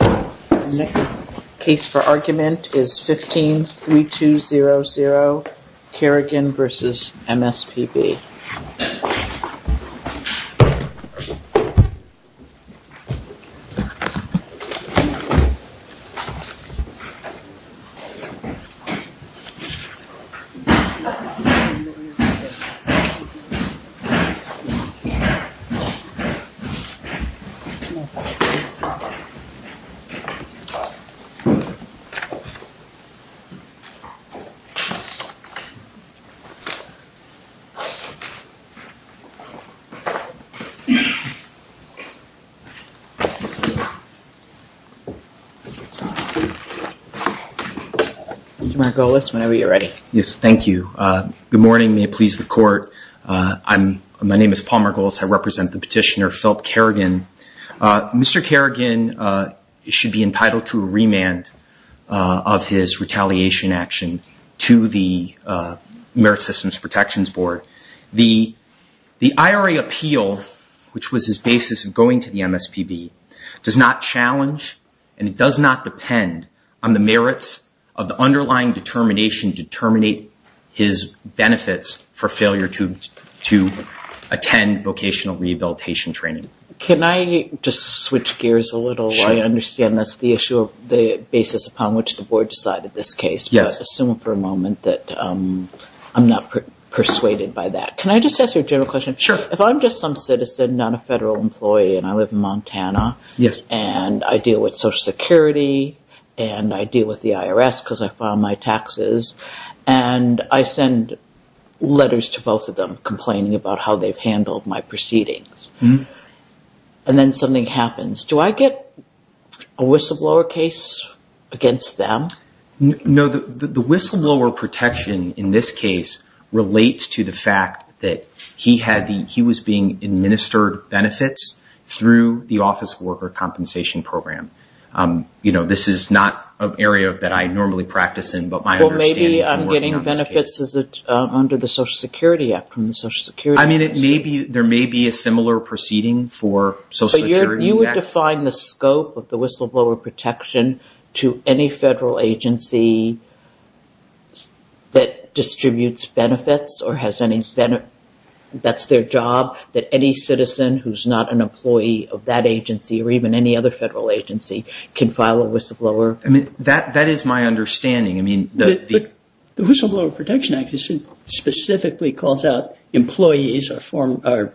The next case for argument is 15-3200 Carrigan v. MSPB Mr. Margolis, whenever you're ready. Yes, thank you. Good morning. May it please the court. My name is Paul Margolis. I represent the petitioner, Philip Carrigan. Mr. Carrigan should be entitled to a remand of his retaliation action to the Merit Systems Protections Board. The IRA appeal, which was his basis of going to the MSPB, does not challenge and it does not depend on the merits of the underlying determination to terminate his benefits for failure to attend vocational rehabilitation training. Can I just switch gears a little? I understand that's the issue of the basis upon which the board decided this case, but assume for a moment that I'm not persuaded by that. Can I just ask you a general question? Sure. If I'm just some citizen, not a federal employee, and I live in Montana, and I deal with Social Security, and I deal with the IRS because I file my taxes, and I send letters to both of them complaining about how they've handled my proceedings, and then something happens, do I get a whistleblower case against them? No. The whistleblower protection in this case relates to the fact that he was being administered benefits through the Office of Worker Compensation Program. This is not an area that I normally practice in, but my understanding from working on this case- I mean, there may be a similar proceeding for Social Security. But you would define the scope of the whistleblower protection to any federal agency that distributes benefits or has any benefits, that's their job, that any citizen who's not an employee of that agency or even any other federal agency can file a whistleblower- I mean, that is my understanding. The Whistleblower Protection Act specifically calls out employees or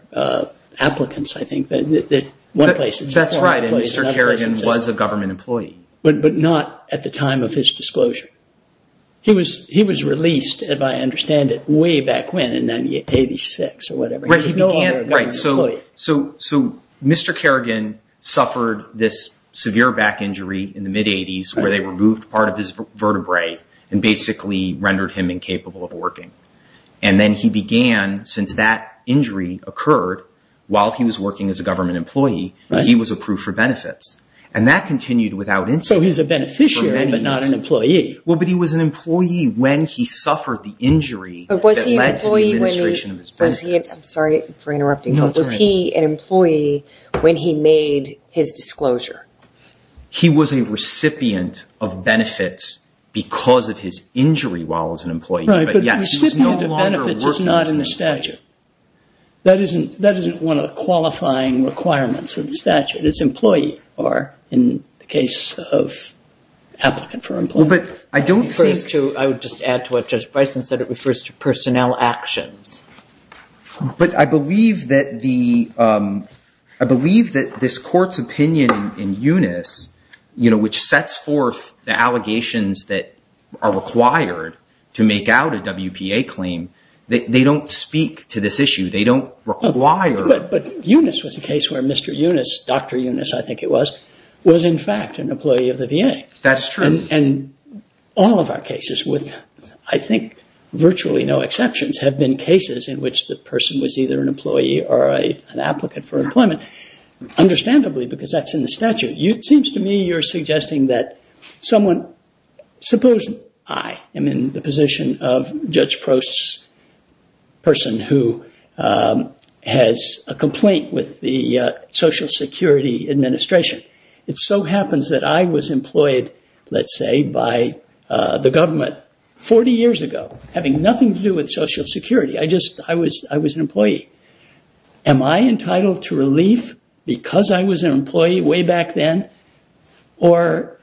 applicants, I think, in one place. That's right, and Mr. Kerrigan was a government employee. But not at the time of his disclosure. He was released, if I understand it, way back when, in 1986 or whatever. Right, so Mr. Kerrigan suffered this severe back injury in the mid-'80s where they removed part of his vertebrae and basically rendered him incapable of working. And then he began, since that injury occurred while he was working as a government employee, he was approved for benefits. And that continued without incident. So he's a beneficiary but not an employee. Well, but he was an employee when he suffered the injury that led to the administration of his benefits. Was he an employee when he made his disclosure? He was a recipient of benefits because of his injury while as an employee. Right, but recipient of benefits is not in the statute. That isn't one of the qualifying requirements of the statute. It's employee or, in the case of applicant for employment. Well, but I don't think- I would just add to what Judge Bryson said. It refers to personnel actions. But I believe that this court's opinion in Eunice, which sets forth the allegations that are required to make out a WPA claim, they don't speak to this issue. They don't require- But Eunice was the case where Mr. Eunice, Dr. Eunice I think it was, was in fact an employee of the VA. That's true. And all of our cases, with I think virtually no exceptions, have been cases in which the person was either an employee or an applicant for employment, understandably because that's in the statute. It seems to me you're suggesting that someone- Suppose I am in the position of Judge Prost's person who has a complaint with the Social Security Administration. It so happens that I was employed, let's say, by the government 40 years ago, having nothing to do with Social Security. I just- I was an employee. Am I entitled to relief because I was an employee way back then or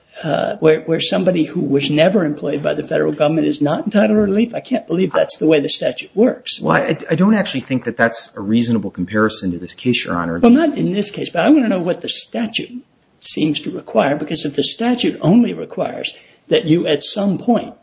where somebody who was never employed by the federal government is not entitled to relief? I can't believe that's the way the statute works. Well, I don't actually think that that's a reasonable comparison to this case, Your Honor. Well, not in this case, but I want to know what the statute seems to require because if the statute only requires that you at some point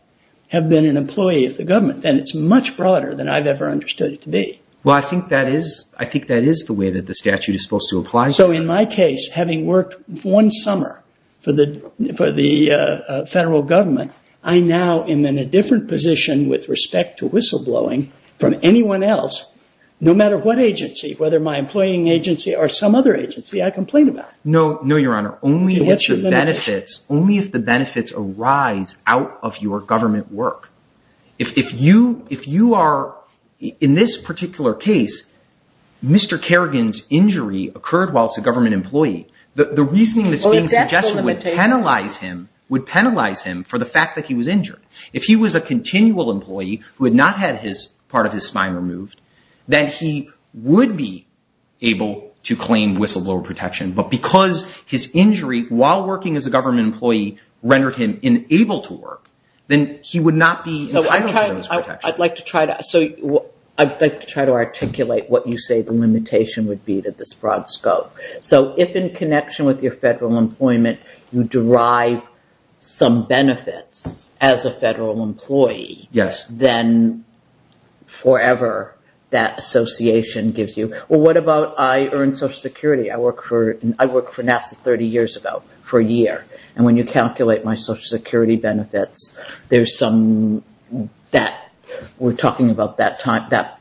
have been an employee of the government, then it's much broader than I've ever understood it to be. Well, I think that is the way that the statute is supposed to apply. So in my case, having worked one summer for the federal government, I now am in a different position with respect to whistleblowing from anyone else, no matter what agency, whether my employing agency or some other agency I complain about. No, no, Your Honor. Only if the benefits arise out of your government work. If you are- in this particular case, Mr. Kerrigan's injury occurred whilst a government employee. The reasoning that's being suggested would penalize him for the fact that he was injured. If he was a continual employee who had not had part of his spine removed, then he would be able to claim whistleblower protection. But because his injury while working as a government employee rendered him unable to work, then he would not be entitled to those protections. I'd like to try to articulate what you say the limitation would be to this broad scope. So if in connection with your federal employment, you derive some benefits as a federal employee, then forever that association gives you- well, what about I earned Social Security? I worked for NASA 30 years ago, for a year. And when you calculate my Social Security benefits, there's some- we're talking about that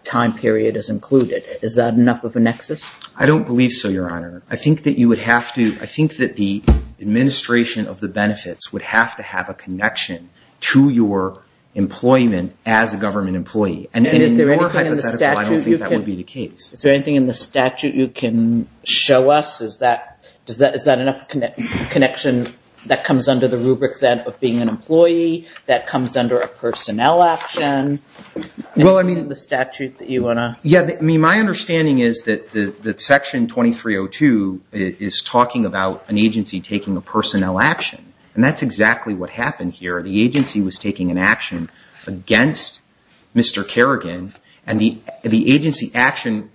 time period is included. Is that enough of a nexus? I don't believe so, Your Honor. I think that you would have to- I think that the administration of the benefits would have to have a connection to your employment as a government employee. And in your hypothetical, I don't think that would be the case. Is there anything in the statute you can show us? Is that enough connection that comes under the rubric then of being an employee, that comes under a personnel action? Well, I mean- The statute that you want to- Yeah. I mean, my understanding is that Section 2302 is talking about an agency taking a personnel action. And that's exactly what happened here. The agency was taking an action against Mr. Kerrigan. And the agency action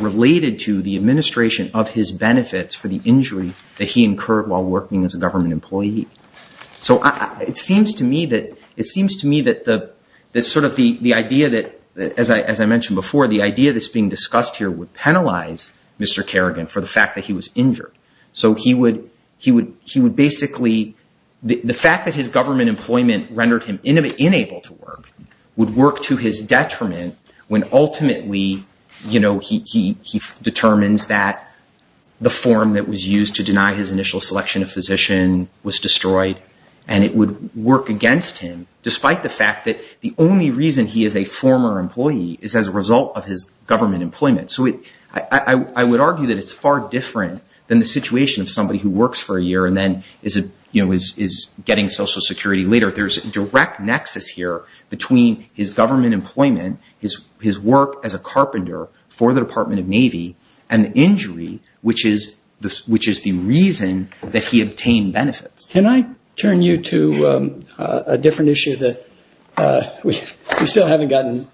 related to the administration of his benefits for the injury that he incurred while working as a government employee. So it seems to me that sort of the idea that, as I mentioned before, the idea that's being discussed here would penalize Mr. Kerrigan for the fact that he was injured. So he would basically- the fact that his government employment rendered him unable to work would work to his detriment when ultimately he determines that the form that was used to deny his initial selection of physician was destroyed. And it would work against him, despite the fact that the only reason he is a former employee is as a result of his government employment. So I would argue that it's far different than the situation of somebody who works for a year and then is getting Social Security later. There's a direct nexus here between his government employment, his work as a carpenter for the Department of Navy, and the injury, which is the reason that he obtained benefits. Can I turn you to a different issue that- we still haven't gotten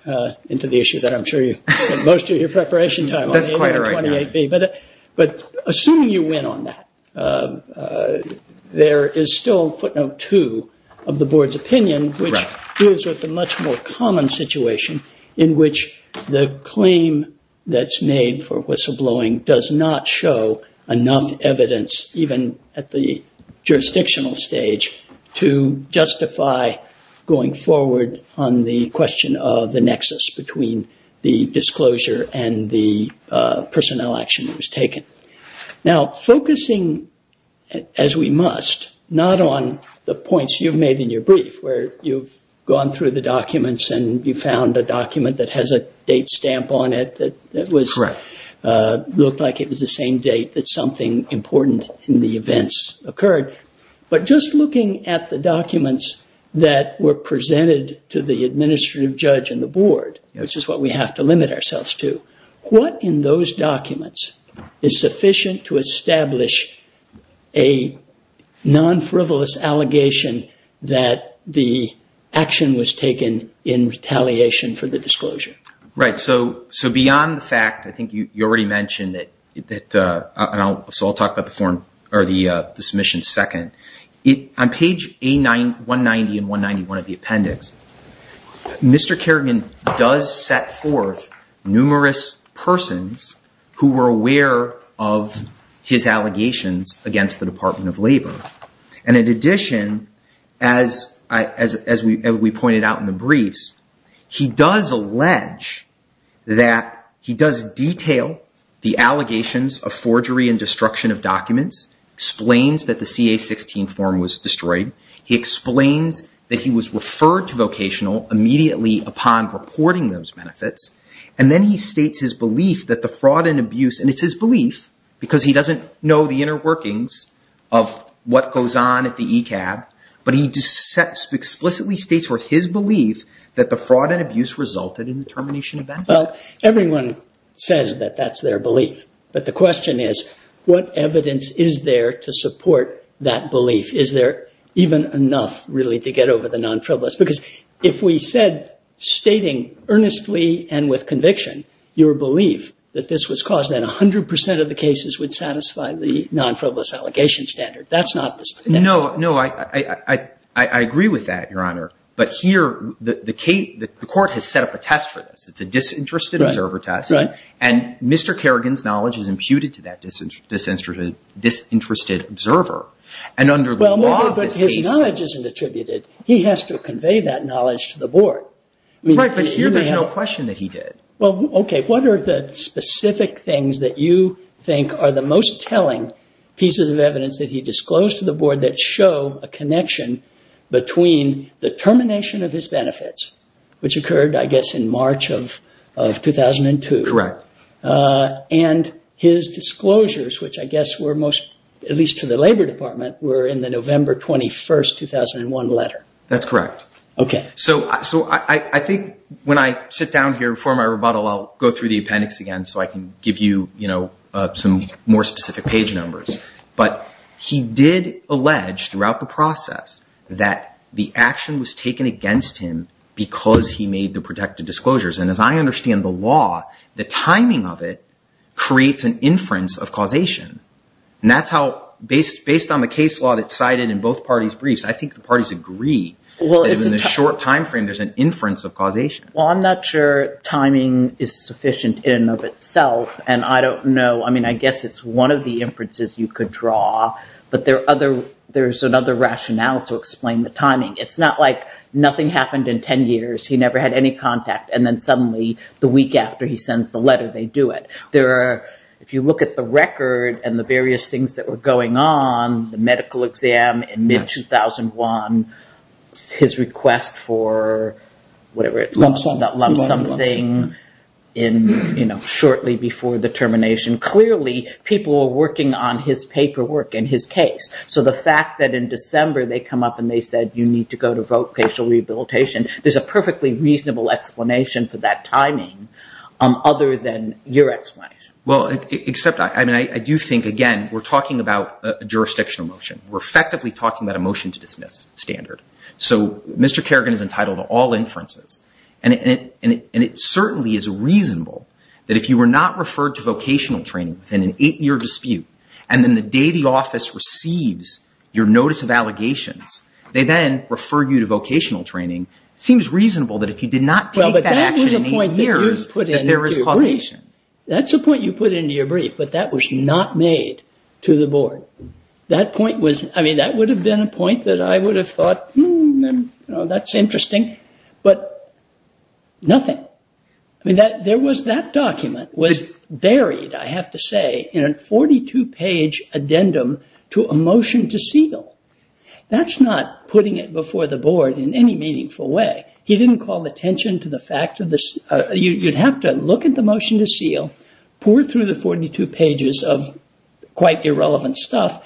into the issue that I'm sure you spent most of your preparation time on. That's quite right. But assuming you win on that, there is still footnote two of the board's opinion, which deals with the much more common situation in which the claim that's made for whistleblowing does not show enough evidence, even at the jurisdictional stage, to justify going forward on the question of the nexus between the disclosure and the personnel action that was taken. Now, focusing, as we must, not on the points you've made in your brief, where you've gone through the documents and you found a document that has a date stamp on it that looked like it was the same date that something important in the events occurred. But just looking at the documents that were presented to the administrative judge and the board, which is what we have to limit ourselves to, what in those documents is sufficient to establish a non-frivolous allegation that the action was taken in retaliation for the disclosure? Right. So beyond the fact, I think you already mentioned that- so I'll talk about the form or the submission second. On page 190 and 191 of the appendix, Mr. Kerrigan does set forth numerous persons who were aware of his allegations against the Department of Labor. And in addition, as we pointed out in the briefs, he does allege that he does detail the allegations of forgery and destruction of documents, explains that the CA-16 form was destroyed. He explains that he was referred to vocational immediately upon reporting those benefits. And then he states his belief that the fraud and abuse, and it's his belief because he doesn't know the inner workings of what goes on at the ECAB, but he explicitly states with his belief that the fraud and abuse resulted in the termination of benefits. Well, everyone says that that's their belief. But the question is, what evidence is there to support that belief? Is there even enough, really, to get over the non-frivolous? Because if we said, stating earnestly and with conviction, your belief that this was caused, then 100 percent of the cases would satisfy the non-frivolous allegation standard. That's not the- No, no. I agree with that, Your Honor. But here, the court has set up a test for this. It's a disinterested observer test. Right, right. And Mr. Kerrigan's knowledge is imputed to that disinterested observer. And under the law of this case- Well, but his knowledge isn't attributed. He has to convey that knowledge to the board. Right, but here there's no question that he did. Well, okay. What are the specific things that you think are the most telling pieces of evidence that he disclosed to the board that show a connection between the termination of his benefits, which occurred, I guess, in March of 2002. Correct. And his disclosures, which I guess were most, at least to the Labor Department, were in the November 21st, 2001 letter. That's correct. Okay. So I think when I sit down here before my rebuttal, I'll go through the appendix again so I can give you some more specific page numbers. But he did allege throughout the process that the action was taken against him because he made the protected disclosures. And as I understand the law, the timing of it creates an inference of causation. And that's how, based on the case law that's cited in both parties' briefs, I think the parties agree that in a short timeframe there's an inference of causation. Well, I'm not sure timing is sufficient in and of itself. And I don't know. I mean, I guess it's one of the inferences you could draw. But there's another rationale to explain the timing. It's not like nothing happened in 10 years. He never had any contact. And then suddenly, the week after he sends the letter, they do it. If you look at the record and the various things that were going on, the medical exam in mid-2001, his request for whatever it was. Lump sum. That lump sum thing shortly before the termination. Clearly, people were working on his paperwork and his case. So the fact that in December they come up and they said, you need to go to vocational rehabilitation, there's a perfectly reasonable explanation for that timing other than your explanation. Well, except I do think, again, we're talking about a jurisdictional motion. We're effectively talking about a motion to dismiss standard. So Mr. Kerrigan is entitled to all inferences. And it certainly is reasonable that if you were not referred to vocational training within an eight-year dispute, and then the day the office receives your notice of allegations, they then refer you to vocational training, it seems reasonable that if you did not take that action in eight years, that there is causation. That's a point you put into your brief, but that was not made to the board. That point was, I mean, that would have been a point that I would have thought, that's interesting. But nothing. I mean, there was that document was buried, I have to say, in a 42-page addendum to a motion to seal. That's not putting it before the board in any meaningful way. He didn't call attention to the fact of this. You'd have to look at the motion to seal, pour through the 42 pages of quite irrelevant stuff,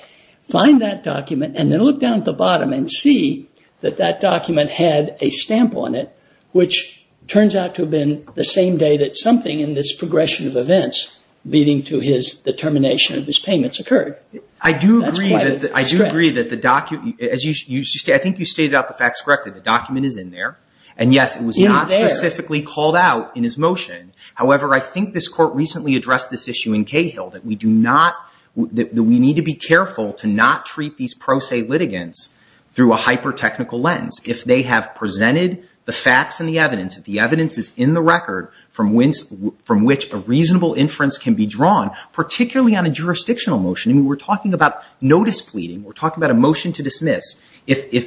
find that document, and then look down at the bottom and see that that document had a stamp on it, which turns out to have been the same day that something in this progression of events leading to his determination of his payments occurred. I do agree that the document, as you say, I think you stated out the facts correctly, the document is in there, and yes, it was not specifically called out in his motion. However, I think this court recently addressed this issue in Cahill, that we need to be careful to not treat these pro se litigants through a hyper-technical lens. If they have presented the facts and the evidence, if the evidence is in the record from which a reasonable inference can be drawn, particularly on a jurisdictional motion, and we're talking about notice pleading, we're talking about a motion to dismiss, if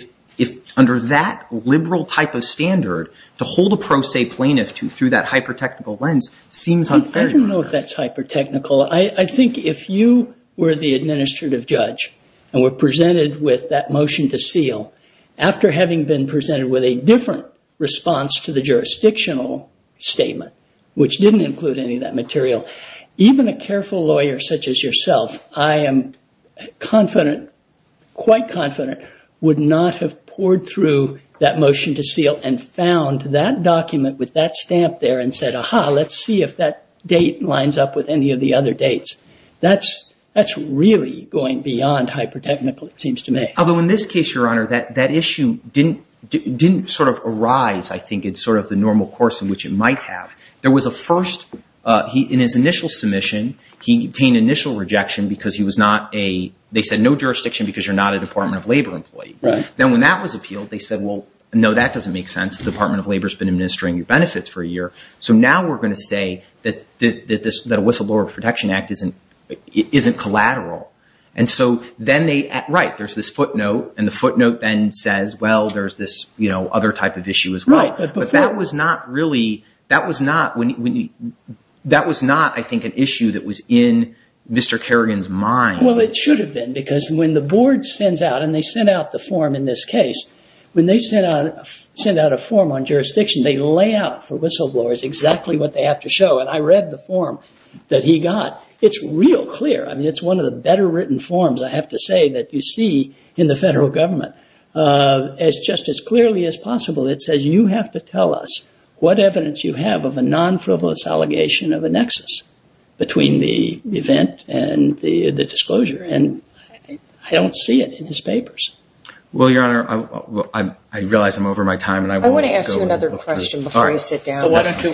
under that liberal type of standard, to hold a pro se plaintiff through that hyper-technical lens seems unfair. I don't know if that's hyper-technical. I think if you were the administrative judge and were presented with that motion to seal, after having been presented with a different response to the jurisdictional statement, which didn't include any of that material, even a careful lawyer such as yourself, I am confident, quite confident, would not have poured through that motion to seal and found that document with that stamp there and said, ah-ha, let's see if that date lines up with any of the other dates. That's really going beyond hyper-technical, it seems to me. Although in this case, Your Honor, that issue didn't sort of arise, I think, in sort of the normal course in which it might have. There was a first, in his initial submission, he obtained initial rejection because he was not a, they said, no jurisdiction because you're not a Department of Labor employee. Then when that was appealed, they said, well, no, that doesn't make sense. The Department of Labor's been administering your benefits for a year. So now we're going to say that a whistleblower protection act isn't collateral. And so then they, right, there's this footnote, and the footnote then says, well, there's this other type of issue as well. But that was not really, that was not, that was not, I think, an issue that was in Mr. Kerrigan's mind. Well, it should have been because when the board sends out, and they sent out the form in this case, when they send out a form on jurisdiction, they lay out for whistleblowers exactly what they have to show. And I read the form that he got. It's real clear. I mean, it's one of the better written forms, I have to say, that you see in the federal government. It's just as clearly as possible. It says you have to tell us what evidence you have of a non-frivolous allegation of a nexus between the event and the disclosure. And I don't see it in his papers. Well, Your Honor, I realize I'm over my time. I want to ask you another question before you sit down. So why don't you,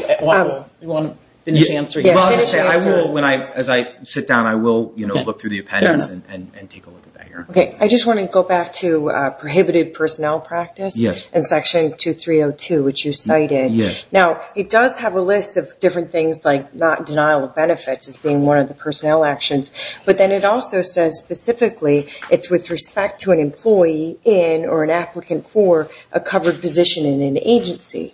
you want to finish answering? As I sit down, I will look through the appendix and take a look at that, Your Honor. Okay. I just want to go back to prohibited personnel practice in Section 2302, which you cited. Yes. Now, it does have a list of different things like not denial of benefits as being one of the personnel actions. But then it also says specifically it's with respect to an employee in or an applicant for a covered position in an agency.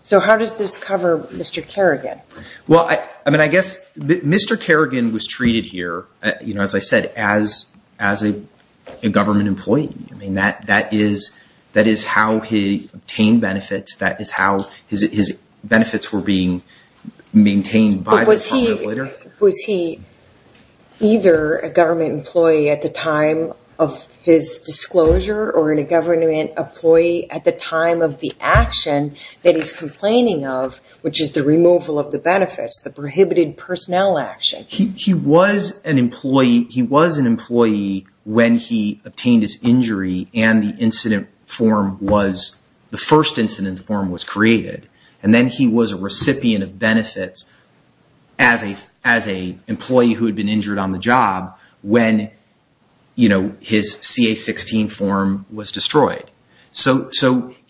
So how does this cover Mr. Kerrigan? Well, I mean, I guess Mr. Kerrigan was treated here, you know, as I said, as a government employee. I mean, that is how he obtained benefits. That is how his benefits were being maintained by the Department of Labor. But was he either a government employee at the time of his disclosure or in a government employee at the time of the action that he's complaining of, which is the removal of the benefits, the prohibited personnel action? He was an employee when he obtained his injury and the incident form was, the first incident form was created. And then he was a recipient of benefits as an employee who had been injured on the job when, you know, his CA-16 form was destroyed. So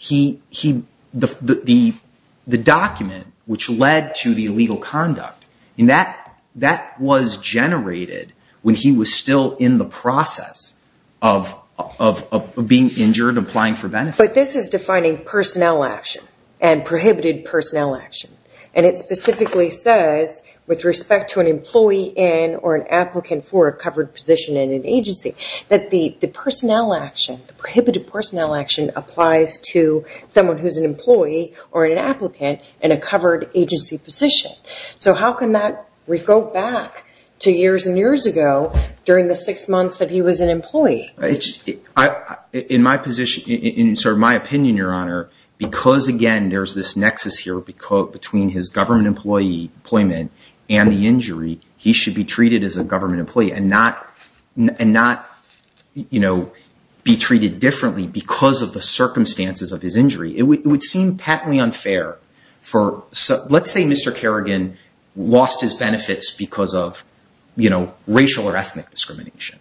the document which led to the illegal conduct, that was generated when he was still in the process of being injured and applying for benefits. But this is defining personnel action and prohibited personnel action. And it specifically says, with respect to an employee in or an applicant for a covered position in an agency, that the personnel action, the prohibited personnel action applies to someone who is an employee or an applicant in a covered agency position. So how can that go back to years and years ago during the six months that he was an employee? In my opinion, Your Honor, because, again, there's this nexus here between his government employment and the injury, he should be treated as a government employee and not, you know, be treated differently because of the circumstances of his injury. It would seem patently unfair. Let's say Mr. Kerrigan lost his benefits because of, you know, racial or ethnic discrimination.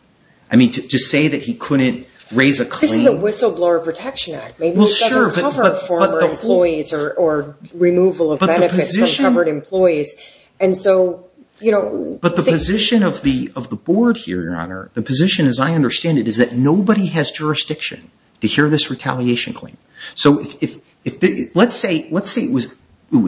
I mean, to say that he couldn't raise a claim... This is a whistleblower protection act. Maybe it doesn't cover former employees or removal of benefits from covered employees. But the position of the board here, Your Honor, the position as I understand it, is that nobody has jurisdiction to hear this retaliation claim. So let's say it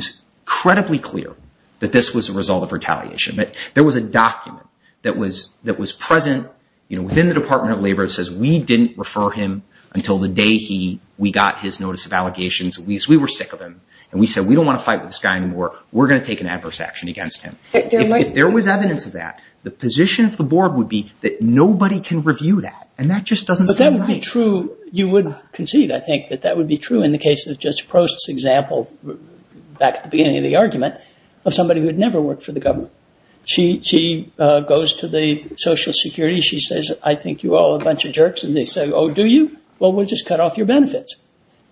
was credibly clear that this was a result of retaliation, but there was a document that was present, you know, within the Department of Labor that says, we didn't refer him until the day we got his notice of allegations because we were sick of him. And we said, we don't want to fight with this guy anymore. We're going to take an adverse action against him. If there was evidence of that, the position of the board would be that nobody can review that. And that just doesn't sound right. But that would be true. You would concede, I think, that that would be true in the case of Judge Prost's example back at the beginning of the argument of somebody who had never worked for the government. She goes to the Social Security. She says, I think you all are a bunch of jerks. And they say, oh, do you? Well, we'll just cut off your benefits.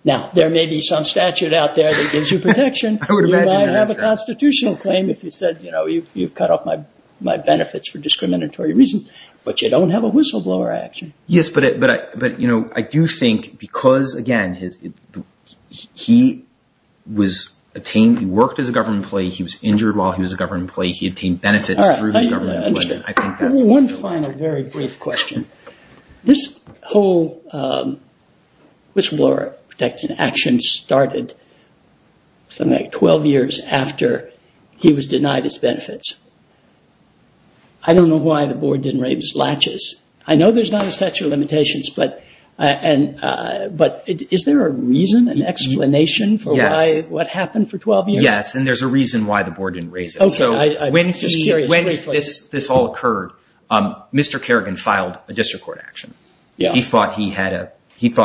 Now, there may be some statute out there that gives you protection. You might have a constitutional claim if you said, you know, you've cut off my benefits for discriminatory reasons. But you don't have a whistleblower action. Yes, but, you know, I do think because, again, he worked as a government employee. He was injured while he was a government employee. He obtained benefits through his government employment. One final, very brief question. This whole whistleblower protection action started something like 12 years after he was denied his benefits. I don't know why the board didn't write his latches. I know there's not a statute of limitations, but is there a reason, an explanation for what happened for 12 years? Yes, and there's a reason why the board didn't raise it. So when this all occurred, Mr. Kerrigan filed a district court action. He thought he had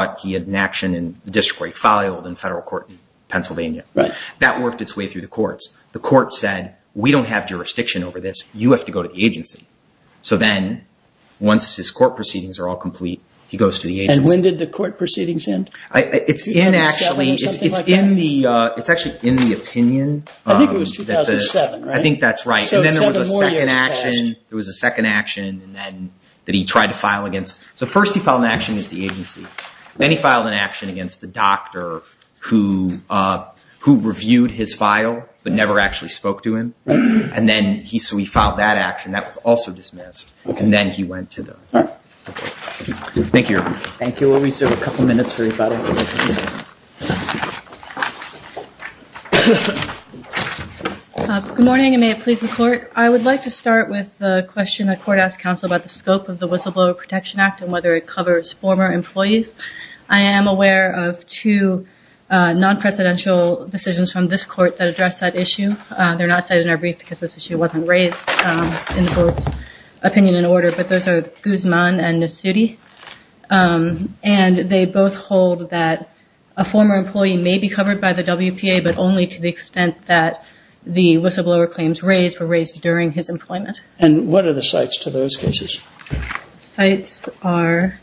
an action in the district court. He filed in federal court in Pennsylvania. That worked its way through the courts. The courts said, we don't have jurisdiction over this. You have to go to the agency. So then, once his court proceedings are all complete, he goes to the agency. And when did the court proceedings end? It's actually in the opinion. I think it was 2007, right? I think that's right. And then there was a second action that he tried to file against. So first he filed an action against the agency. Then he filed an action against the doctor who reviewed his file but never actually spoke to him. So he filed that action. That was also dismissed. And then he went to the court. Thank you, Your Honor. Thank you, Luis. We have a couple minutes for everybody. Good morning, and may it please the court. I would like to start with the question the court asked counsel about the scope of the Whistleblower Protection Act and whether it covers former employees. I am aware of two non-presidential decisions from this court that address that issue. They're not cited in our brief because this issue wasn't raised in the court's opinion and order, but those are Guzman and Nasuti. And they both hold that a former employee may be covered by the WPA but only to the extent that the whistleblower claims raised were raised during his employment. And what are the sites to those cases? The sites are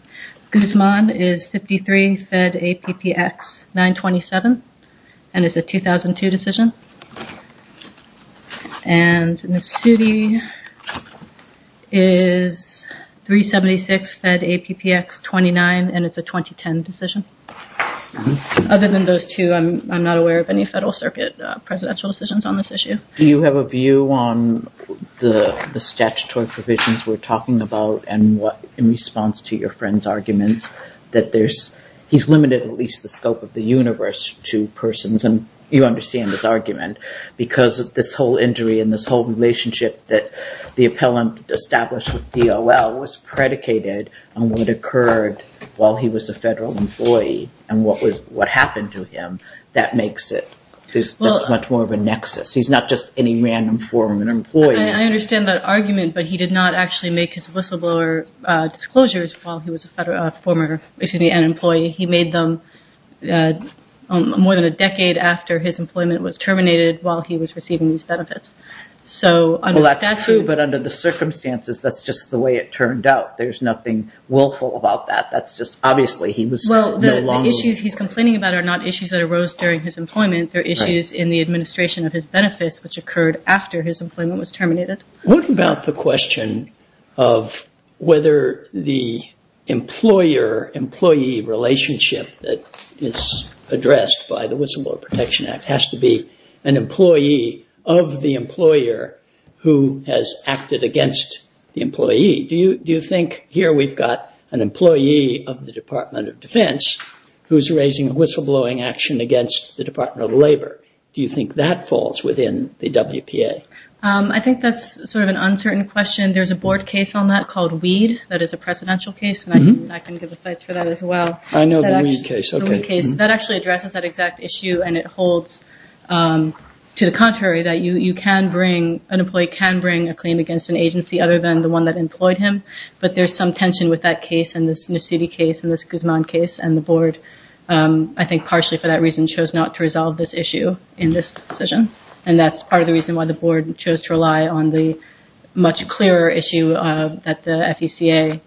Guzman is 53, Fed APPX 927, and it's a 2002 decision. And Nasuti is 376, Fed APPX 29, and it's a 2010 decision. Other than those two, I'm not aware of any Federal Circuit presidential decisions on this issue. Do you have a view on the statutory provisions we're talking about and what, in response to your friend's arguments, that he's limited at least the scope of the universe to persons, and you understand his argument, because of this whole injury and this whole relationship that the appellant established with DOL was predicated on what occurred while he was a Federal employee and what happened to him. That makes it much more of a nexus. He's not just any random former employee. I understand that argument, but he did not actually make his whistleblower disclosures while he was a former employee. He made them more than a decade after his employment was terminated while he was receiving these benefits. Well, that's true, but under the circumstances, that's just the way it turned out. There's nothing willful about that. That's just obviously he was no longer... Well, the issues he's complaining about are not issues that arose during his employment. They're issues in the administration of his benefits, which occurred after his employment was terminated. What about the question of whether the employer-employee relationship that is addressed by the Whistleblower Protection Act has to be an employee of the employer who has acted against the employee? Do you think here we've got an employee of the Department of Defense who's raising a whistleblowing action against the Department of Labor? Do you think that falls within the WPA? I think that's sort of an uncertain question. There's a board case on that called Weed that is a precedential case, and I can give the sites for that as well. I know the Weed case. That actually addresses that exact issue, and it holds to the contrary, that an employee can bring a claim against an agency other than the one that employed him, but there's some tension with that case and this New City case and this Guzman case, and the board, I think partially for that reason, chose not to resolve this issue in this decision, and that's part of the reason why the board chose to rely on the much clearer issue that the FECA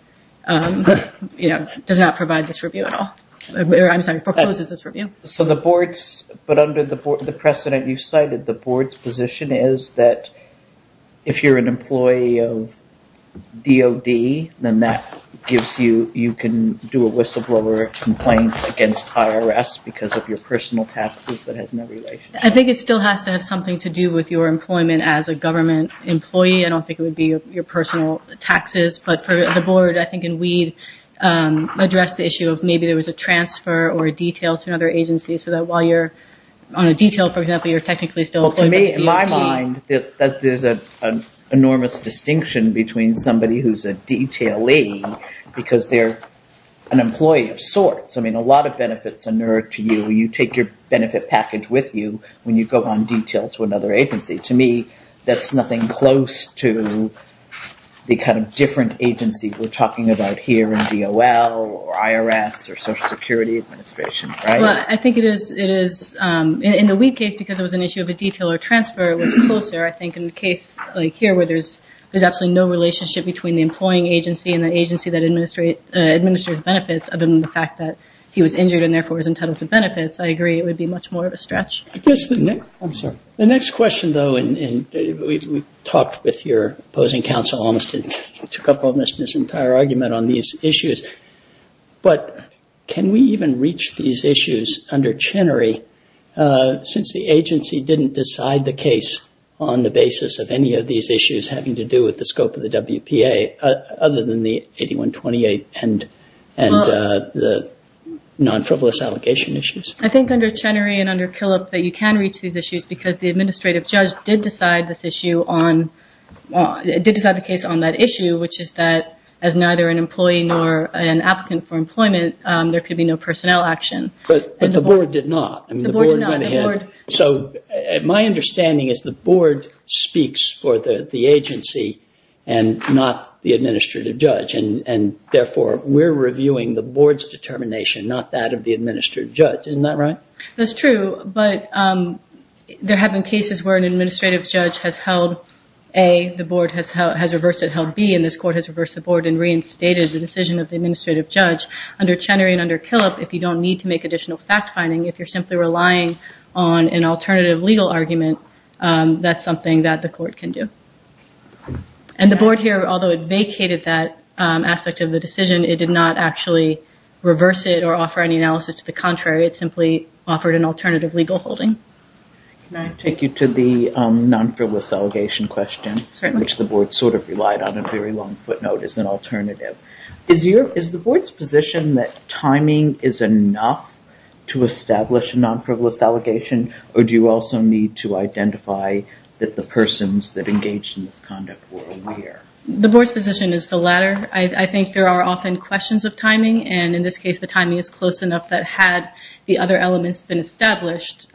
does not provide this review at all. I'm sorry, proposes this review. So the board's, but under the precedent you cited, the board's position is that if you're an employee of DOD, then that gives you, you can do a whistleblower complaint against IRS because of your personal taxes, but it has no relation. I think it still has to have something to do with your employment as a government employee. I don't think it would be your personal taxes, but for the board, I think in Weed, addressed the issue of maybe there was a transfer or a detail to another agency, so that while you're on a detail, for example, you're technically still employed with a DOT. Well, to me, in my mind, there's an enormous distinction between somebody who's a detailee because they're an employee of sorts. I mean, a lot of benefits inert to you. You take your benefit package with you when you go on detail to another agency. To me, that's nothing close to the kind of different agency we're talking about here in DOL or IRS or Social Security Administration, right? Well, I think it is. In the Weed case, because it was an issue of a detail or transfer, it was closer. I think in a case like here where there's absolutely no relationship between the employing agency and the agency that administers benefits other than the fact that he was injured and therefore was entitled to benefits, I agree it would be much more of a stretch. I guess the next question, though, and we talked with your opposing counsel, took up almost his entire argument on these issues. But can we even reach these issues under Chenery since the agency didn't decide the case on the basis of any of these issues having to do with the scope of the WPA other than the 8128 and the non-frivolous allocation issues? I think under Chenery and under Killip that you can reach these issues because the administrative judge did decide the case on that issue, which is that as neither an employee nor an applicant for employment, there could be no personnel action. But the board did not. The board did not. So my understanding is the board speaks for the agency and not the administrative judge, and therefore we're reviewing the board's determination, not that of the administrative judge. Isn't that right? That's true, but there have been cases where an administrative judge has held A, the board has reversed it and held B, and this court has reversed the board and reinstated the decision of the administrative judge. Under Chenery and under Killip, if you don't need to make additional fact-finding, if you're simply relying on an alternative legal argument, that's something that the court can do. And the board here, although it vacated that aspect of the decision, it did not actually reverse it or offer any analysis to the contrary. It simply offered an alternative legal holding. Can I take you to the non-frivolous allegation question, which the board sort of relied on a very long footnote as an alternative. Is the board's position that timing is enough to establish a non-frivolous allegation, or do you also need to identify that the persons that engaged in this conduct were aware? The board's position is the latter. I think there are often questions of timing, and in this case the timing is close enough that had the other elements been established,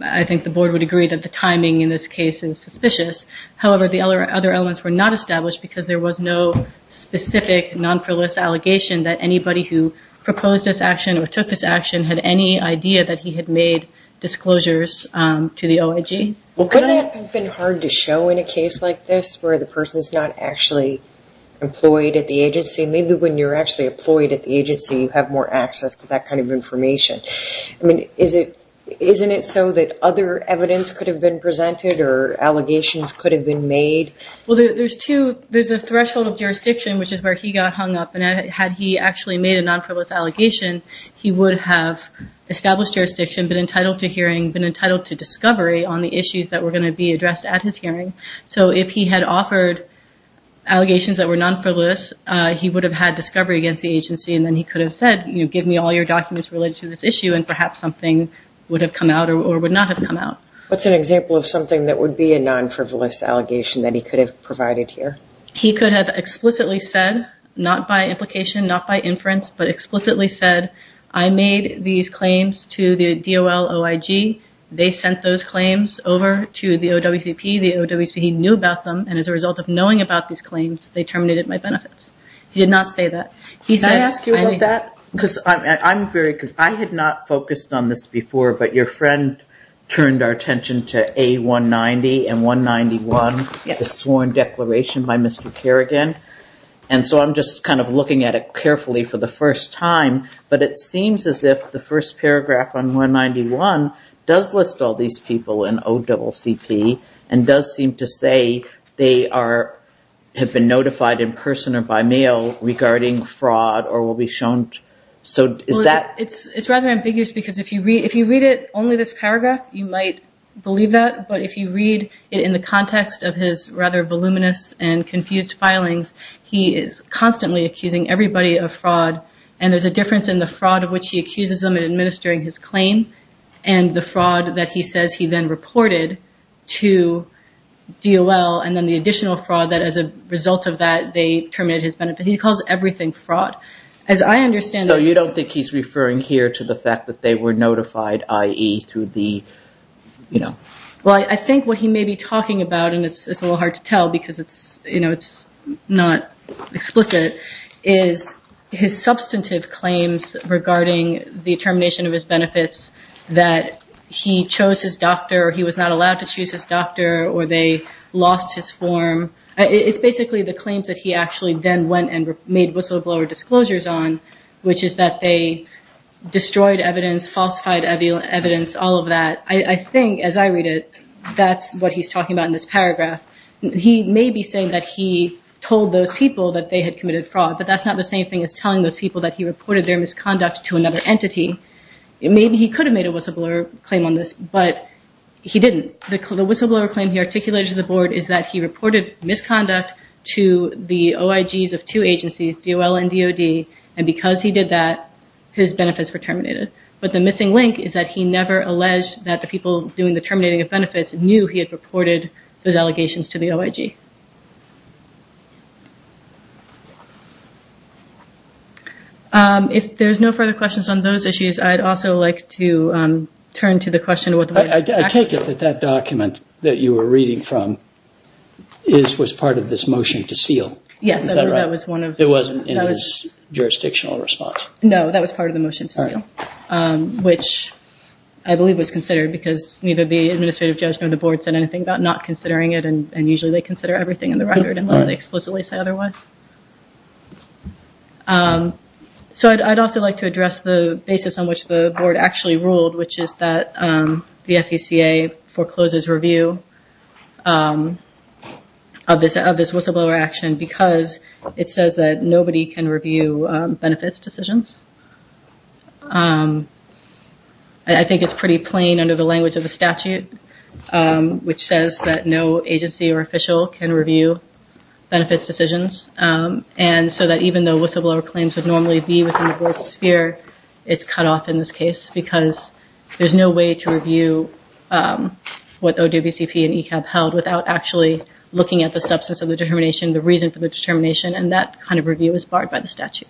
I think the board would agree that the timing in this case is suspicious. However, the other elements were not established because there was no specific non-frivolous allegation that anybody who proposed this action or took this action had any idea that he had made disclosures to the OIG. Well, couldn't that have been hard to show in a case like this where the person's not actually employed at the agency? Maybe when you're actually employed at the agency you have more access to that kind of information. Isn't it so that other evidence could have been presented or allegations could have been made? Well, there's a threshold of jurisdiction, which is where he got hung up, and had he actually made a non-frivolous allegation, he would have established jurisdiction, been entitled to hearing, been entitled to discovery on the issues that were going to be addressed at his hearing. So if he had offered allegations that were non-frivolous, he would have had discovery against the agency and then he could have said, you know, give me all your documents related to this issue and perhaps something would have come out or would not have come out. What's an example of something that would be a non-frivolous allegation that he could have provided here? He could have explicitly said, not by implication, not by inference, but explicitly said, I made these claims to the DOL OIG. They sent those claims over to the OWCP. The OWCP knew about them, and as a result of knowing about these claims, they terminated my benefits. He did not say that. Can I ask you about that? Because I'm very confused. I had not focused on this before, but your friend turned our attention to A190 and 191, the sworn declaration by Mr. Kerrigan. And so I'm just kind of looking at it carefully for the first time, but it seems as if the first paragraph on 191 does list all these people in OWCP and does seem to say they have been notified in person or by mail regarding fraud or will be shown. It's rather ambiguous because if you read it, only this paragraph, you might believe that, but if you read it in the context of his rather voluminous and confused filings, he is constantly accusing everybody of fraud, and there's a difference in the fraud of which he accuses them in administering his claim and the fraud that he says he then reported to DOL, and then the additional fraud that as a result of that, they terminated his benefits. He calls everything fraud. So you don't think he's referring here to the fact that they were notified, i.e., through the, you know. Well, I think what he may be talking about, and it's a little hard to tell because it's, you know, it's not explicit, is his substantive claims regarding the termination of his benefits, that he chose his doctor or he was not allowed to choose his doctor or they lost his form. It's basically the claims that he actually then went and made whistleblower disclosures on, which is that they destroyed evidence, falsified evidence, all of that. I think, as I read it, that's what he's talking about in this paragraph. He may be saying that he told those people that they had committed fraud, but that's not the same thing as telling those people that he reported their misconduct to another entity. Maybe he could have made a whistleblower claim on this, but he didn't. The whistleblower claim he articulated to the board is that he reported misconduct to the OIGs of two agencies, DOL and DOD, and because he did that, his benefits were terminated. But the missing link is that he never alleged that the people doing the terminating of benefits knew he had reported those allegations to the OIG. If there's no further questions on those issues, I'd also like to turn to the question. I take it that that document that you were reading from was part of this motion to seal. Yes, that was one of them. It wasn't in his jurisdictional response. No, that was part of the motion to seal, which I believe was considered because neither the administrative judge nor the board said anything about not considering it, and usually they consider everything in the record unless they explicitly say otherwise. I'd also like to address the basis on which the board actually ruled, which is that the FECA forecloses review of this whistleblower action because it says that nobody can review benefits decisions. I think it's pretty plain under the language of the statute, which says that no agency or official can review benefits decisions, and so that even though whistleblower claims would normally be within the board's sphere, it's cut off in this case because there's no way to review what OWCP and ECAB held without actually looking at the substance of the determination, the reason for the determination, and that kind of review is barred by the statute.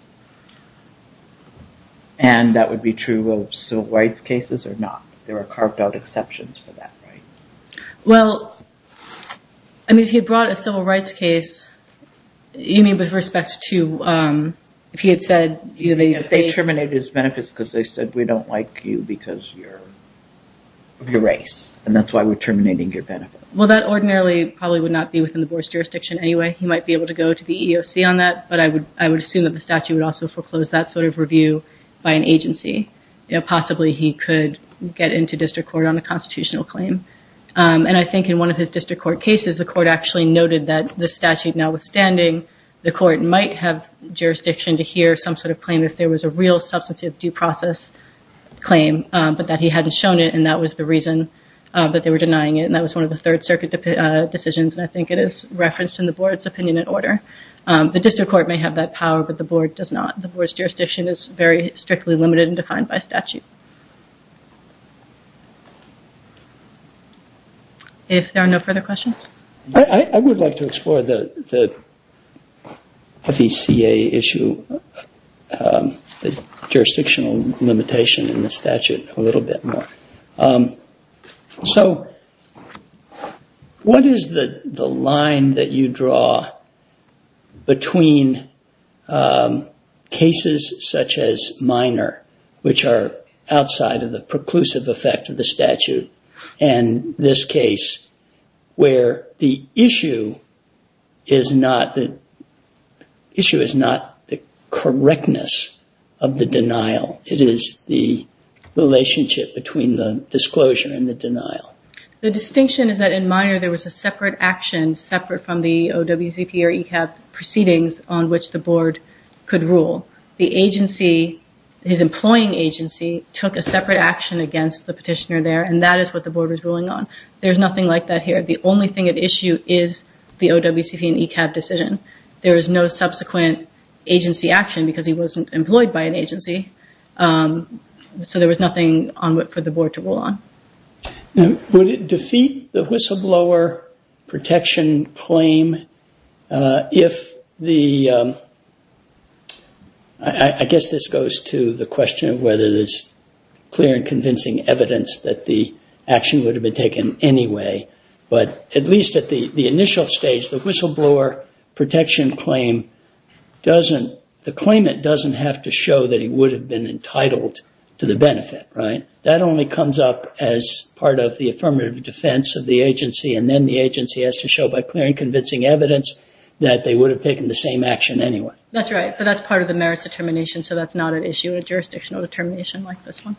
And that would be true of civil rights cases or not? There are carved out exceptions for that, right? Well, I mean, if you brought a civil rights case, you mean with respect to if he had said... If they terminated his benefits because they said, we don't like you because of your race, and that's why we're terminating your benefits. Well, that ordinarily probably would not be within the board's jurisdiction anyway. He might be able to go to the EEOC on that, but I would assume that the statute would also foreclose that sort of review by an agency. Possibly he could get into district court on a constitutional claim, and I think in one of his district court cases, the court actually noted that the statute notwithstanding, the court might have jurisdiction to hear some sort of claim if there was a real substantive due process claim, but that he hadn't shown it, and that was the reason that they were denying it, and that was one of the Third Circuit decisions, and I think it is referenced in the board's opinion and order. The district court may have that power, but the board does not. The board's jurisdiction is very strictly limited and defined by statute. If there are no further questions? I would like to explore the VCA issue, the jurisdictional limitation in the statute a little bit more. So what is the line that you draw between cases such as minor, which are outside of the preclusive effect of the statute, and this case where the issue is not the correctness of the denial? It is the relationship between the disclosure and the denial. The distinction is that in minor, there was a separate action, separate from the OWCP or ECAB proceedings on which the board could rule. The agency, his employing agency, took a separate action against the petitioner there, and that is what the board was ruling on. There's nothing like that here. The only thing at issue is the OWCP and ECAB decision. There is no subsequent agency action because he wasn't employed by an agency, so there was nothing for the board to rule on. Would it defeat the whistleblower protection claim if the – I guess this goes to the question of whether there's clear and convincing evidence that the action would have been taken anyway, but at least at the initial stage, the whistleblower protection claim doesn't – the claimant doesn't have to show that he would have been entitled to the benefit, right? That only comes up as part of the affirmative defense of the agency, and then the agency has to show by clear and convincing evidence that they would have taken the same action anyway. That's right, but that's part of the merits determination, so that's not an issue in a jurisdictional determination like this one.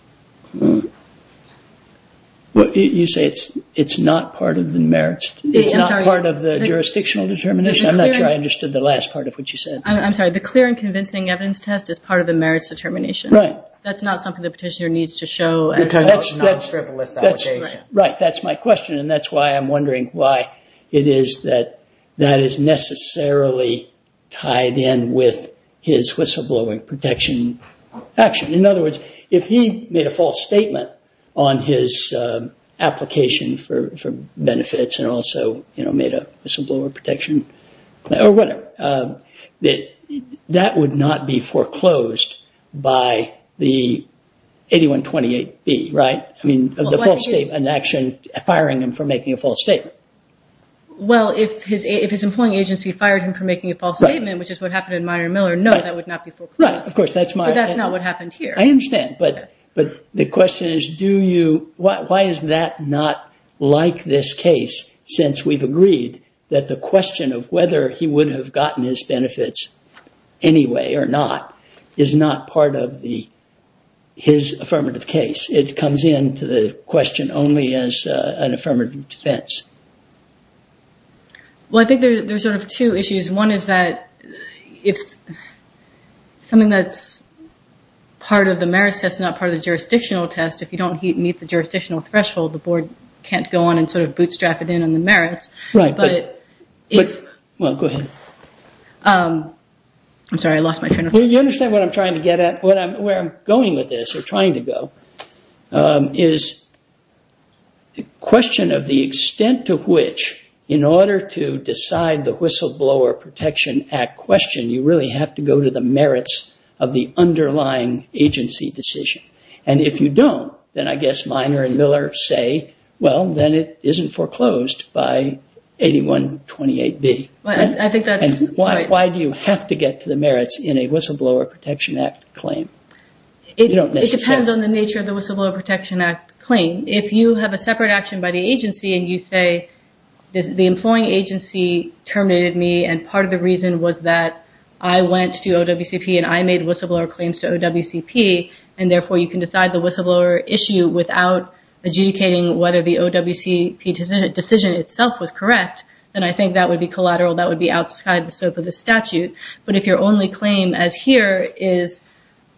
You say it's not part of the merits – It's not part of the jurisdictional determination. I'm not sure I understood the last part of what you said. I'm sorry. The clear and convincing evidence test is part of the merits determination. Right. That's not something the petitioner needs to show as a non-frivolous allegation. Right, that's my question, and that's why I'm wondering why it is that that is necessarily tied in with his whistleblowing protection action. In other words, if he made a false statement on his application for benefits and also made a whistleblower protection or whatever, that would not be foreclosed by the 8128B, right? I mean, the false statement and action firing him for making a false statement. Well, if his employing agency fired him for making a false statement, which is what happened in Meijer & Miller, no, that would not be foreclosed. But that's not what happened here. I understand, but the question is, why is that not like this case since we've agreed that the question of whether he would have gotten his benefits anyway or not is not part of his affirmative case? It comes into the question only as an affirmative defense. Well, I think there's sort of two issues. One is that it's something that's part of the merits test, not part of the jurisdictional test. If you don't meet the jurisdictional threshold, the board can't go on and sort of bootstrap it in on the merits. Right. Well, go ahead. I'm sorry, I lost my train of thought. You understand what I'm trying to get at, where I'm going with this, or trying to go, is the question of the extent to which, in order to decide the Whistleblower Protection Act question, you really have to go to the merits of the underlying agency decision. And if you don't, then I guess Meijer & Miller say, well, then it isn't foreclosed by 8128B. Why do you have to get to the merits in a Whistleblower Protection Act claim? It depends on the nature of the Whistleblower Protection Act claim. If you have a separate action by the agency and you say the employing agency terminated me and part of the reason was that I went to OWCP and I made whistleblower claims to OWCP, and therefore you can decide the whistleblower issue without adjudicating whether the OWCP decision itself was correct, then I think that would be collateral. That would be outside the scope of the statute. But if your only claim as here is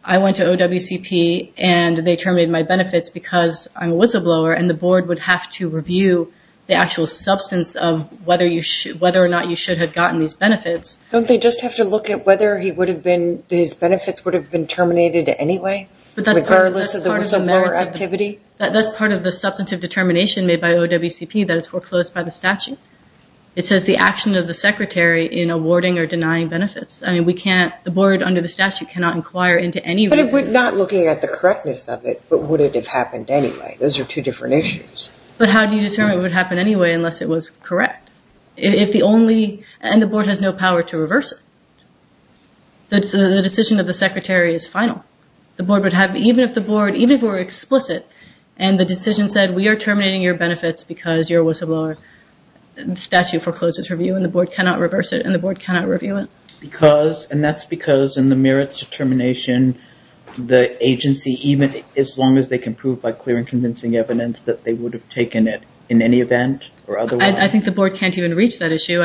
I went to OWCP and they terminated my benefits because I'm a whistleblower and the board would have to review the actual substance of whether or not you should have gotten these benefits. Don't they just have to look at whether his benefits would have been terminated anyway, regardless of the whistleblower activity? That's part of the substantive determination made by OWCP that is foreclosed by the statute. It says the action of the secretary in awarding or denying benefits. The board under the statute cannot inquire into any reason. But if we're not looking at the correctness of it, but would it have happened anyway? Those are two different issues. But how do you determine it would happen anyway unless it was correct? If the only, and the board has no power to reverse it. The decision of the secretary is final. The board would have, even if the board, even if it were explicit and the decision said we are terminating your benefits because you're a whistleblower, the statute forecloses review and the board cannot reverse it and the board cannot review it. And that's because in the merits determination, the agency, even as long as they can prove by clear and convincing evidence that they would have taken it in any event or otherwise. I think the board can't even reach that issue.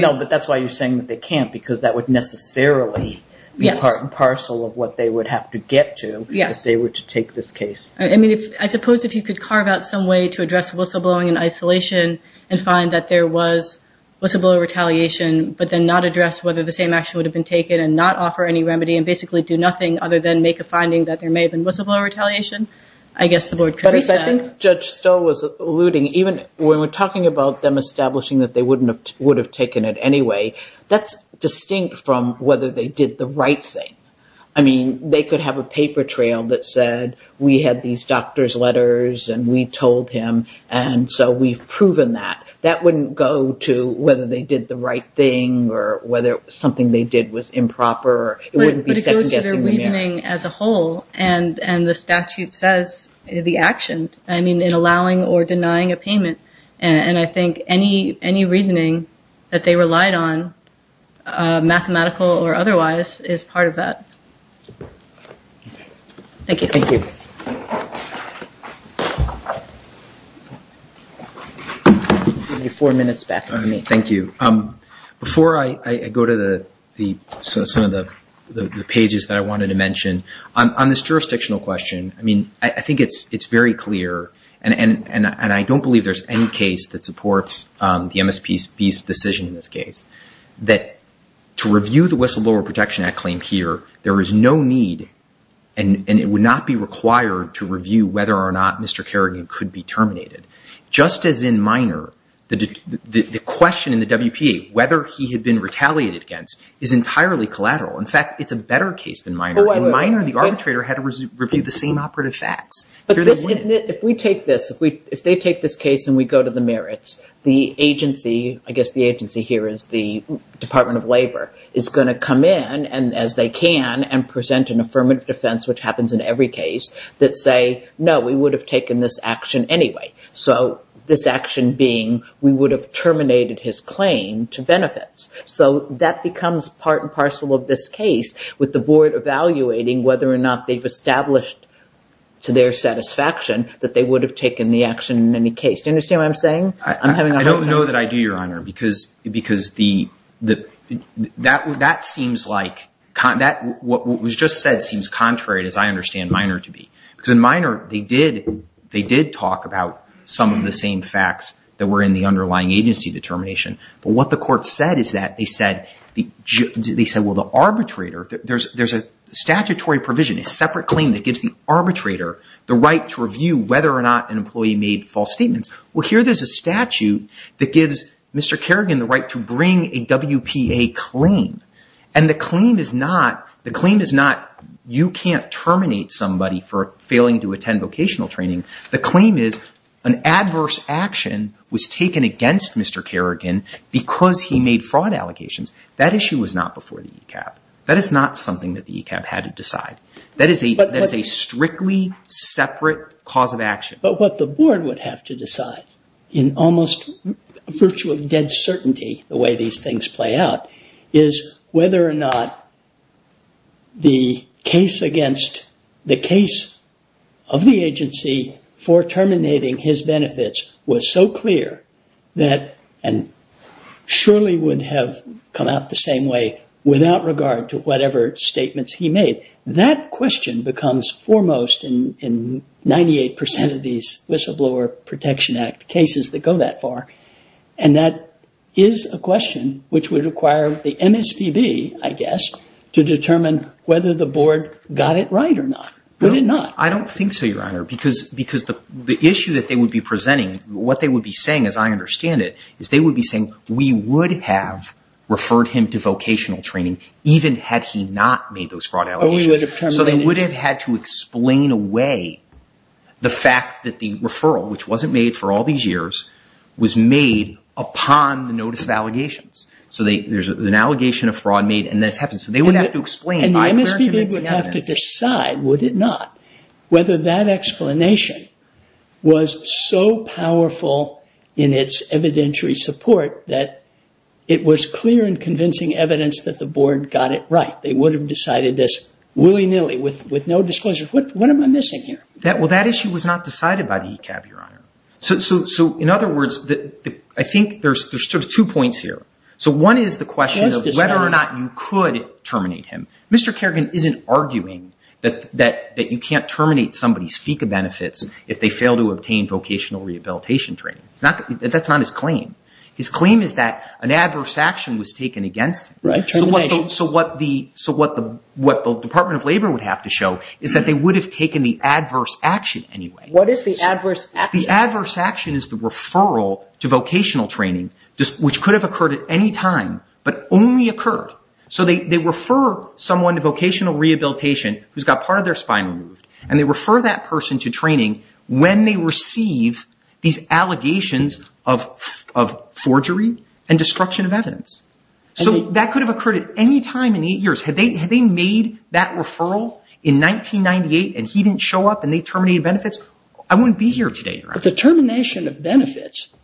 No, but that's why you're saying that they can't because that would necessarily be part and parcel of what they would have to get to if they were to take this case. I suppose if you could carve out some way to address whistleblowing in isolation and find that there was whistleblower retaliation but then not address whether the same action would have been taken and not offer any remedy and basically do nothing other than make a finding that there may have been whistleblower retaliation, I guess the board could reset. But I think Judge Stoll was alluding, even when we're talking about them establishing that they would have taken it anyway, that's distinct from whether they did the right thing. I mean, they could have a paper trail that said we had these doctor's letters and we told him and so we've proven that. That wouldn't go to whether they did the right thing or whether something they did was improper. But it goes to their reasoning as a whole and the statute says the action, I mean, in allowing or denying a payment and I think any reasoning that they relied on, mathematical or otherwise, is part of that. Thank you. Thank you. Thank you. Before I go to some of the pages that I wanted to mention, on this jurisdictional question, I mean, I think it's very clear and I don't believe there's any case that supports the MSPB's decision in this case that to review the Whistleblower Protection Act claim here, there is no need and it would not be required to review whether or not Mr. Kerrigan could be terminated. Just as in Minor, the question in the WPA, whether he had been retaliated against, is entirely collateral. In fact, it's a better case than Minor. In Minor, the arbitrator had to review the same operative facts. If we take this, if they take this case and we go to the merits, the agency, I guess the agency here is the Department of Labor, is going to come in, as they can, and present an affirmative defense, which happens in every case, that say, no, we would have taken this action anyway. So this action being we would have terminated his claim to benefits. So that becomes part and parcel of this case with the board evaluating whether or not they've established to their satisfaction that they would have taken the action in any case. Do you understand what I'm saying? I don't know that I do, Your Honor, because that seems like, what was just said seems contrary, as I understand Minor to be. Because in Minor, they did talk about some of the same facts that were in the underlying agency determination. But what the court said is that they said, well, the arbitrator, there's a statutory provision, a separate claim that gives the arbitrator the right to review whether or not an employee made false statements. Well, here there's a statute that gives Mr. Kerrigan the right to bring a WPA claim. And the claim is not you can't terminate somebody for failing to attend vocational training. The claim is an adverse action was taken against Mr. Kerrigan because he made fraud allocations. That issue was not before the ECAP. That is not something that the ECAP had to decide. That is a strictly separate cause of action. But what the board would have to decide, in almost virtue of dead certainty, the way these things play out, is whether or not the case of the agency for terminating his benefits was so clear and surely would have come out the same way without regard to whatever statements he made. That question becomes foremost in 98% of these Whistleblower Protection Act cases that go that far. And that is a question which would require the MSPB, I guess, to determine whether the board got it right or not. Would it not? I don't think so, Your Honor. Because the issue that they would be presenting, what they would be saying, as I understand it, is they would be saying, we would have referred him to vocational training even had he not made those fraud allocations. So they would have had to explain away the fact that the referral, which wasn't made for all these years, was made upon the notice of allegations. So there's an allegation of fraud made and this happens. So they would have to explain by clear and convincing evidence. And the MSPB would have to decide, would it not, whether that explanation was so powerful in its evidentiary support that it was clear and convincing evidence that the board got it right. They would have decided this willy-nilly with no disclosures. Well, that issue was not decided by the ECAB, Your Honor. So in other words, I think there's two points here. So one is the question of whether or not you could terminate him. Mr. Kerrigan isn't arguing that you can't terminate somebody's FECA benefits if they fail to obtain vocational rehabilitation training. That's not his claim. His claim is that an adverse action was taken against him. So what the Department of Labor would have to show is that they would have taken the adverse action anyway. What is the adverse action? The adverse action is the referral to vocational training, which could have occurred at any time, but only occurred. So they refer someone to vocational rehabilitation who's got part of their spine removed, and they refer that person to training when they receive these allegations of forgery and destruction of evidence. So that could have occurred at any time in the eight years. Had they made that referral in 1998 and he didn't show up and they terminated benefits, I wouldn't be here today, Your Honor. But the termination of benefits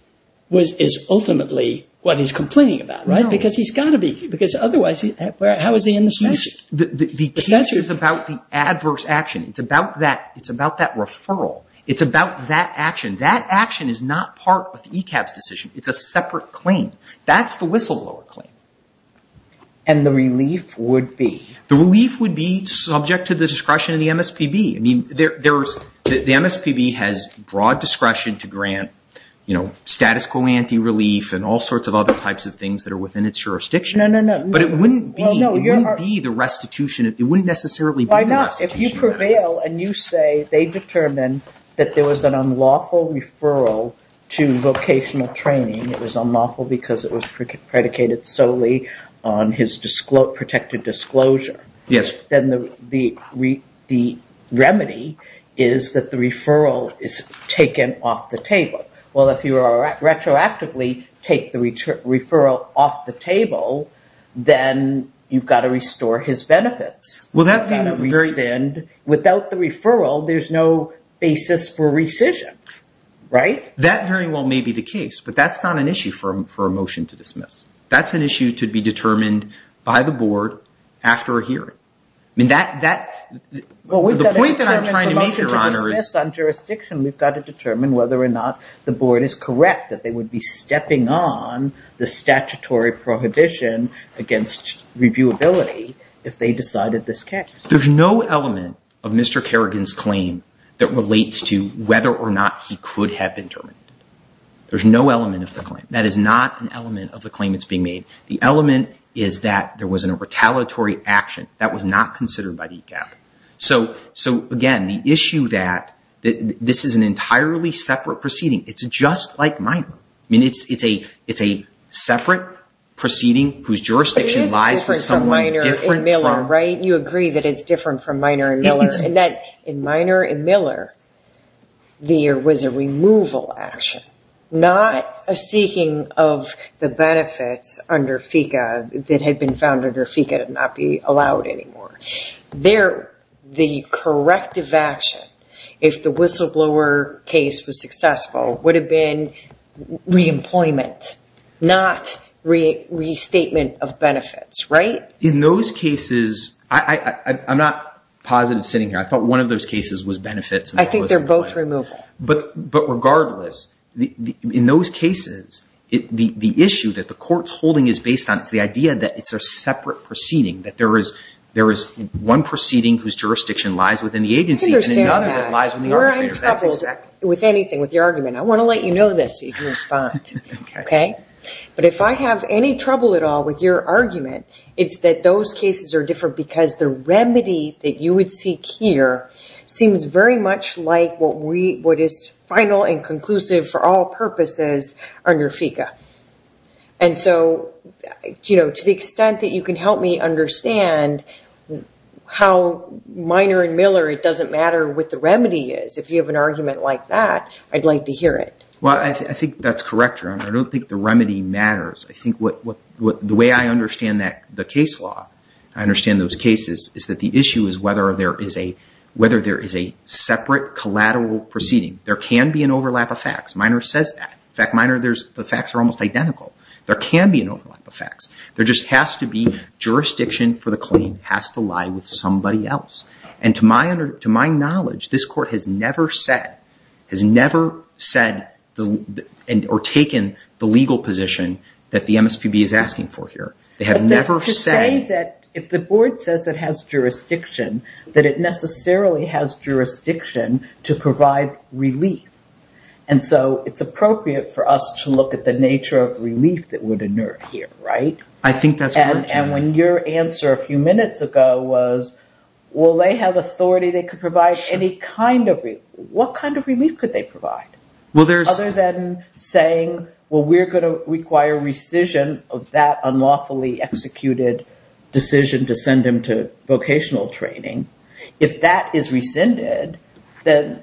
is ultimately what he's complaining about, right? No. Because otherwise, how is he in the statute? The case is about the adverse action. It's about that referral. It's about that action. That action is not part of the ECAB's decision. It's a separate claim. That's the whistleblower claim. And the relief would be? The relief would be subject to the discretion of the MSPB. The MSPB has broad discretion to grant status quo anti-relief and all sorts of other types of things that are within its jurisdiction. No, no, no. But it wouldn't be the restitution. It wouldn't necessarily be the restitution. Why not? If you prevail and you say they determined that there was an unlawful referral to vocational training, it was unlawful because it was predicated solely on his protected disclosure. Yes. But then the remedy is that the referral is taken off the table. Well, if you retroactively take the referral off the table, then you've got to restore his benefits. Without the referral, there's no basis for rescission, right? That very well may be the case, That's an issue to be determined by the board after a hearing. I mean, the point that I'm trying to make, Your Honor, is on jurisdiction. We've got to determine whether or not the board is correct that they would be stepping on the statutory prohibition against reviewability if they decided this case. There's no element of Mr. Kerrigan's claim that relates to whether or not he could have been terminated. There's no element of the claim. That is not an element of the claim that's being made. The element is that there was a retaliatory action that was not considered by DCAP. So, again, the issue that this is an entirely separate proceeding, it's just like Minor. I mean, it's a separate proceeding whose jurisdiction lies with someone different from... But it is different from Minor and Miller, right? You agree that it's different from Minor and Miller, and that in Minor and Miller, there was a removal action, not a seeking of the benefits under FECA that had been found under FECA to not be allowed anymore. There, the corrective action, if the Whistleblower case was successful, would have been re-employment, not restatement of benefits, right? In those cases... I'm not positive sitting here. I thought one of those cases was benefits. I think they're both removal. But regardless, in those cases, the issue that the court's holding is based on is the idea that it's a separate proceeding, that there is one proceeding whose jurisdiction lies within the agency... I understand that. You're in trouble with anything, with your argument. I want to let you know this so you can respond, okay? But if I have any trouble at all with your argument, it's that those cases are different because the remedy that you would seek here seems very much like what is final and conclusive for all purposes under FECA. And so, to the extent that you can help me understand how minor and miller it doesn't matter what the remedy is, if you have an argument like that, I'd like to hear it. Well, I think that's correct, Your Honor. I don't think the remedy matters. I think the way I understand the case law, I understand those cases, is that the issue is whether there is a... whether there is a separate collateral proceeding. There can be an overlap of facts. Minor says that. In fact, minor, the facts are almost identical. There can be an overlap of facts. There just has to be jurisdiction for the claim has to lie with somebody else. And to my knowledge, this court has never said... has never said or taken the legal position that the MSPB is asking for here. They have never said... that it necessarily has jurisdiction to provide relief. And so, it's appropriate for us to look at the nature of relief that would inert here, right? I think that's correct, Your Honor. And when your answer a few minutes ago was, well, they have authority. They could provide any kind of relief. What kind of relief could they provide? Other than saying, well, we're going to require rescission of that unlawfully executed decision to send him to vocational training. If that is rescinded, then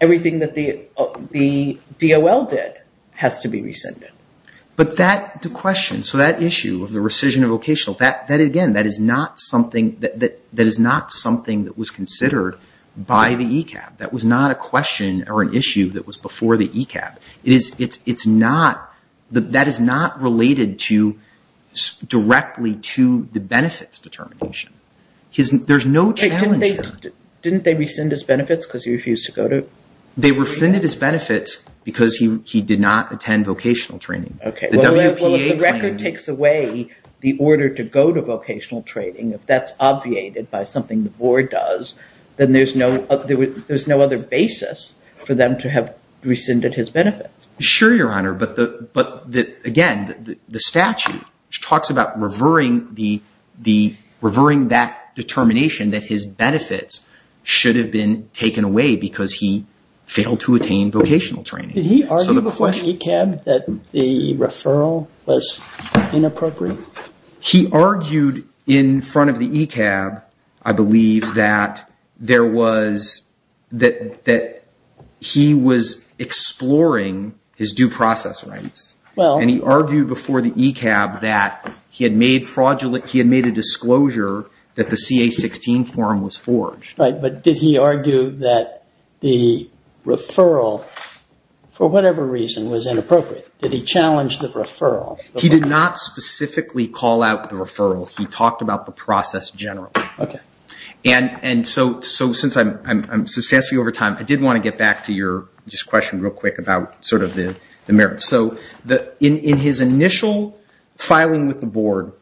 everything that the DOL did has to be rescinded. But that question, so that issue of the rescission of vocational, that, again, that is not something... that is not something that was considered by the ECAB. That was not a question or an issue that was before the ECAB. It is... it's not... There's no challenge here. Didn't they rescind his benefits because he refused to go to... They rescinded his benefits because he did not attend vocational training. Okay. Well, if the record takes away the order to go to vocational training, if that's obviated by something the board does, then there's no other basis for them to have rescinded his benefits. Sure, Your Honor. But, again, the statute talks about revering the... revering that determination that his benefits should have been taken away because he failed to attain vocational training. Did he argue before the ECAB that the referral was inappropriate? He argued in front of the ECAB, I believe, that there was... that he was exploring his due process rights. Well... And he argued before the ECAB that he had made fraudulent... he had made a disclosure that the CA-16 form was forged. Right, but did he argue that the referral, for whatever reason, was inappropriate? Did he challenge the referral? He did not specifically call out the referral. He talked about the process generally. Okay. And so, since I'm substantially over time, I did want to get back to your... just a question real quick about sort of the merits. So, in his initial filing with the board,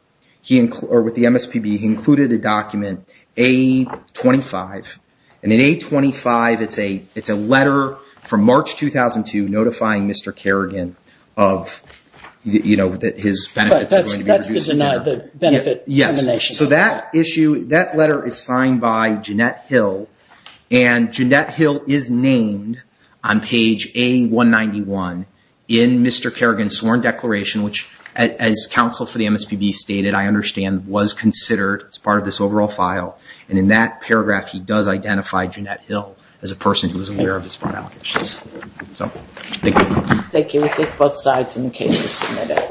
or with the MSPB, he included a document, A-25. And in A-25, it's a letter from March 2002 notifying Mr. Kerrigan of... you know, that his benefits were going to be reduced. But that's the benefit determination. Yes. So that issue... that letter is signed by Jeanette Hill, and Jeanette Hill is named on page A-191 in Mr. Kerrigan's sworn declaration, which, as counsel for the MSPB stated, I understand, was considered as part of this overall file. And in that paragraph, he does identify Jeanette Hill as a person who was aware of this file. So, thank you. Thank you. We'll take both sides in the case.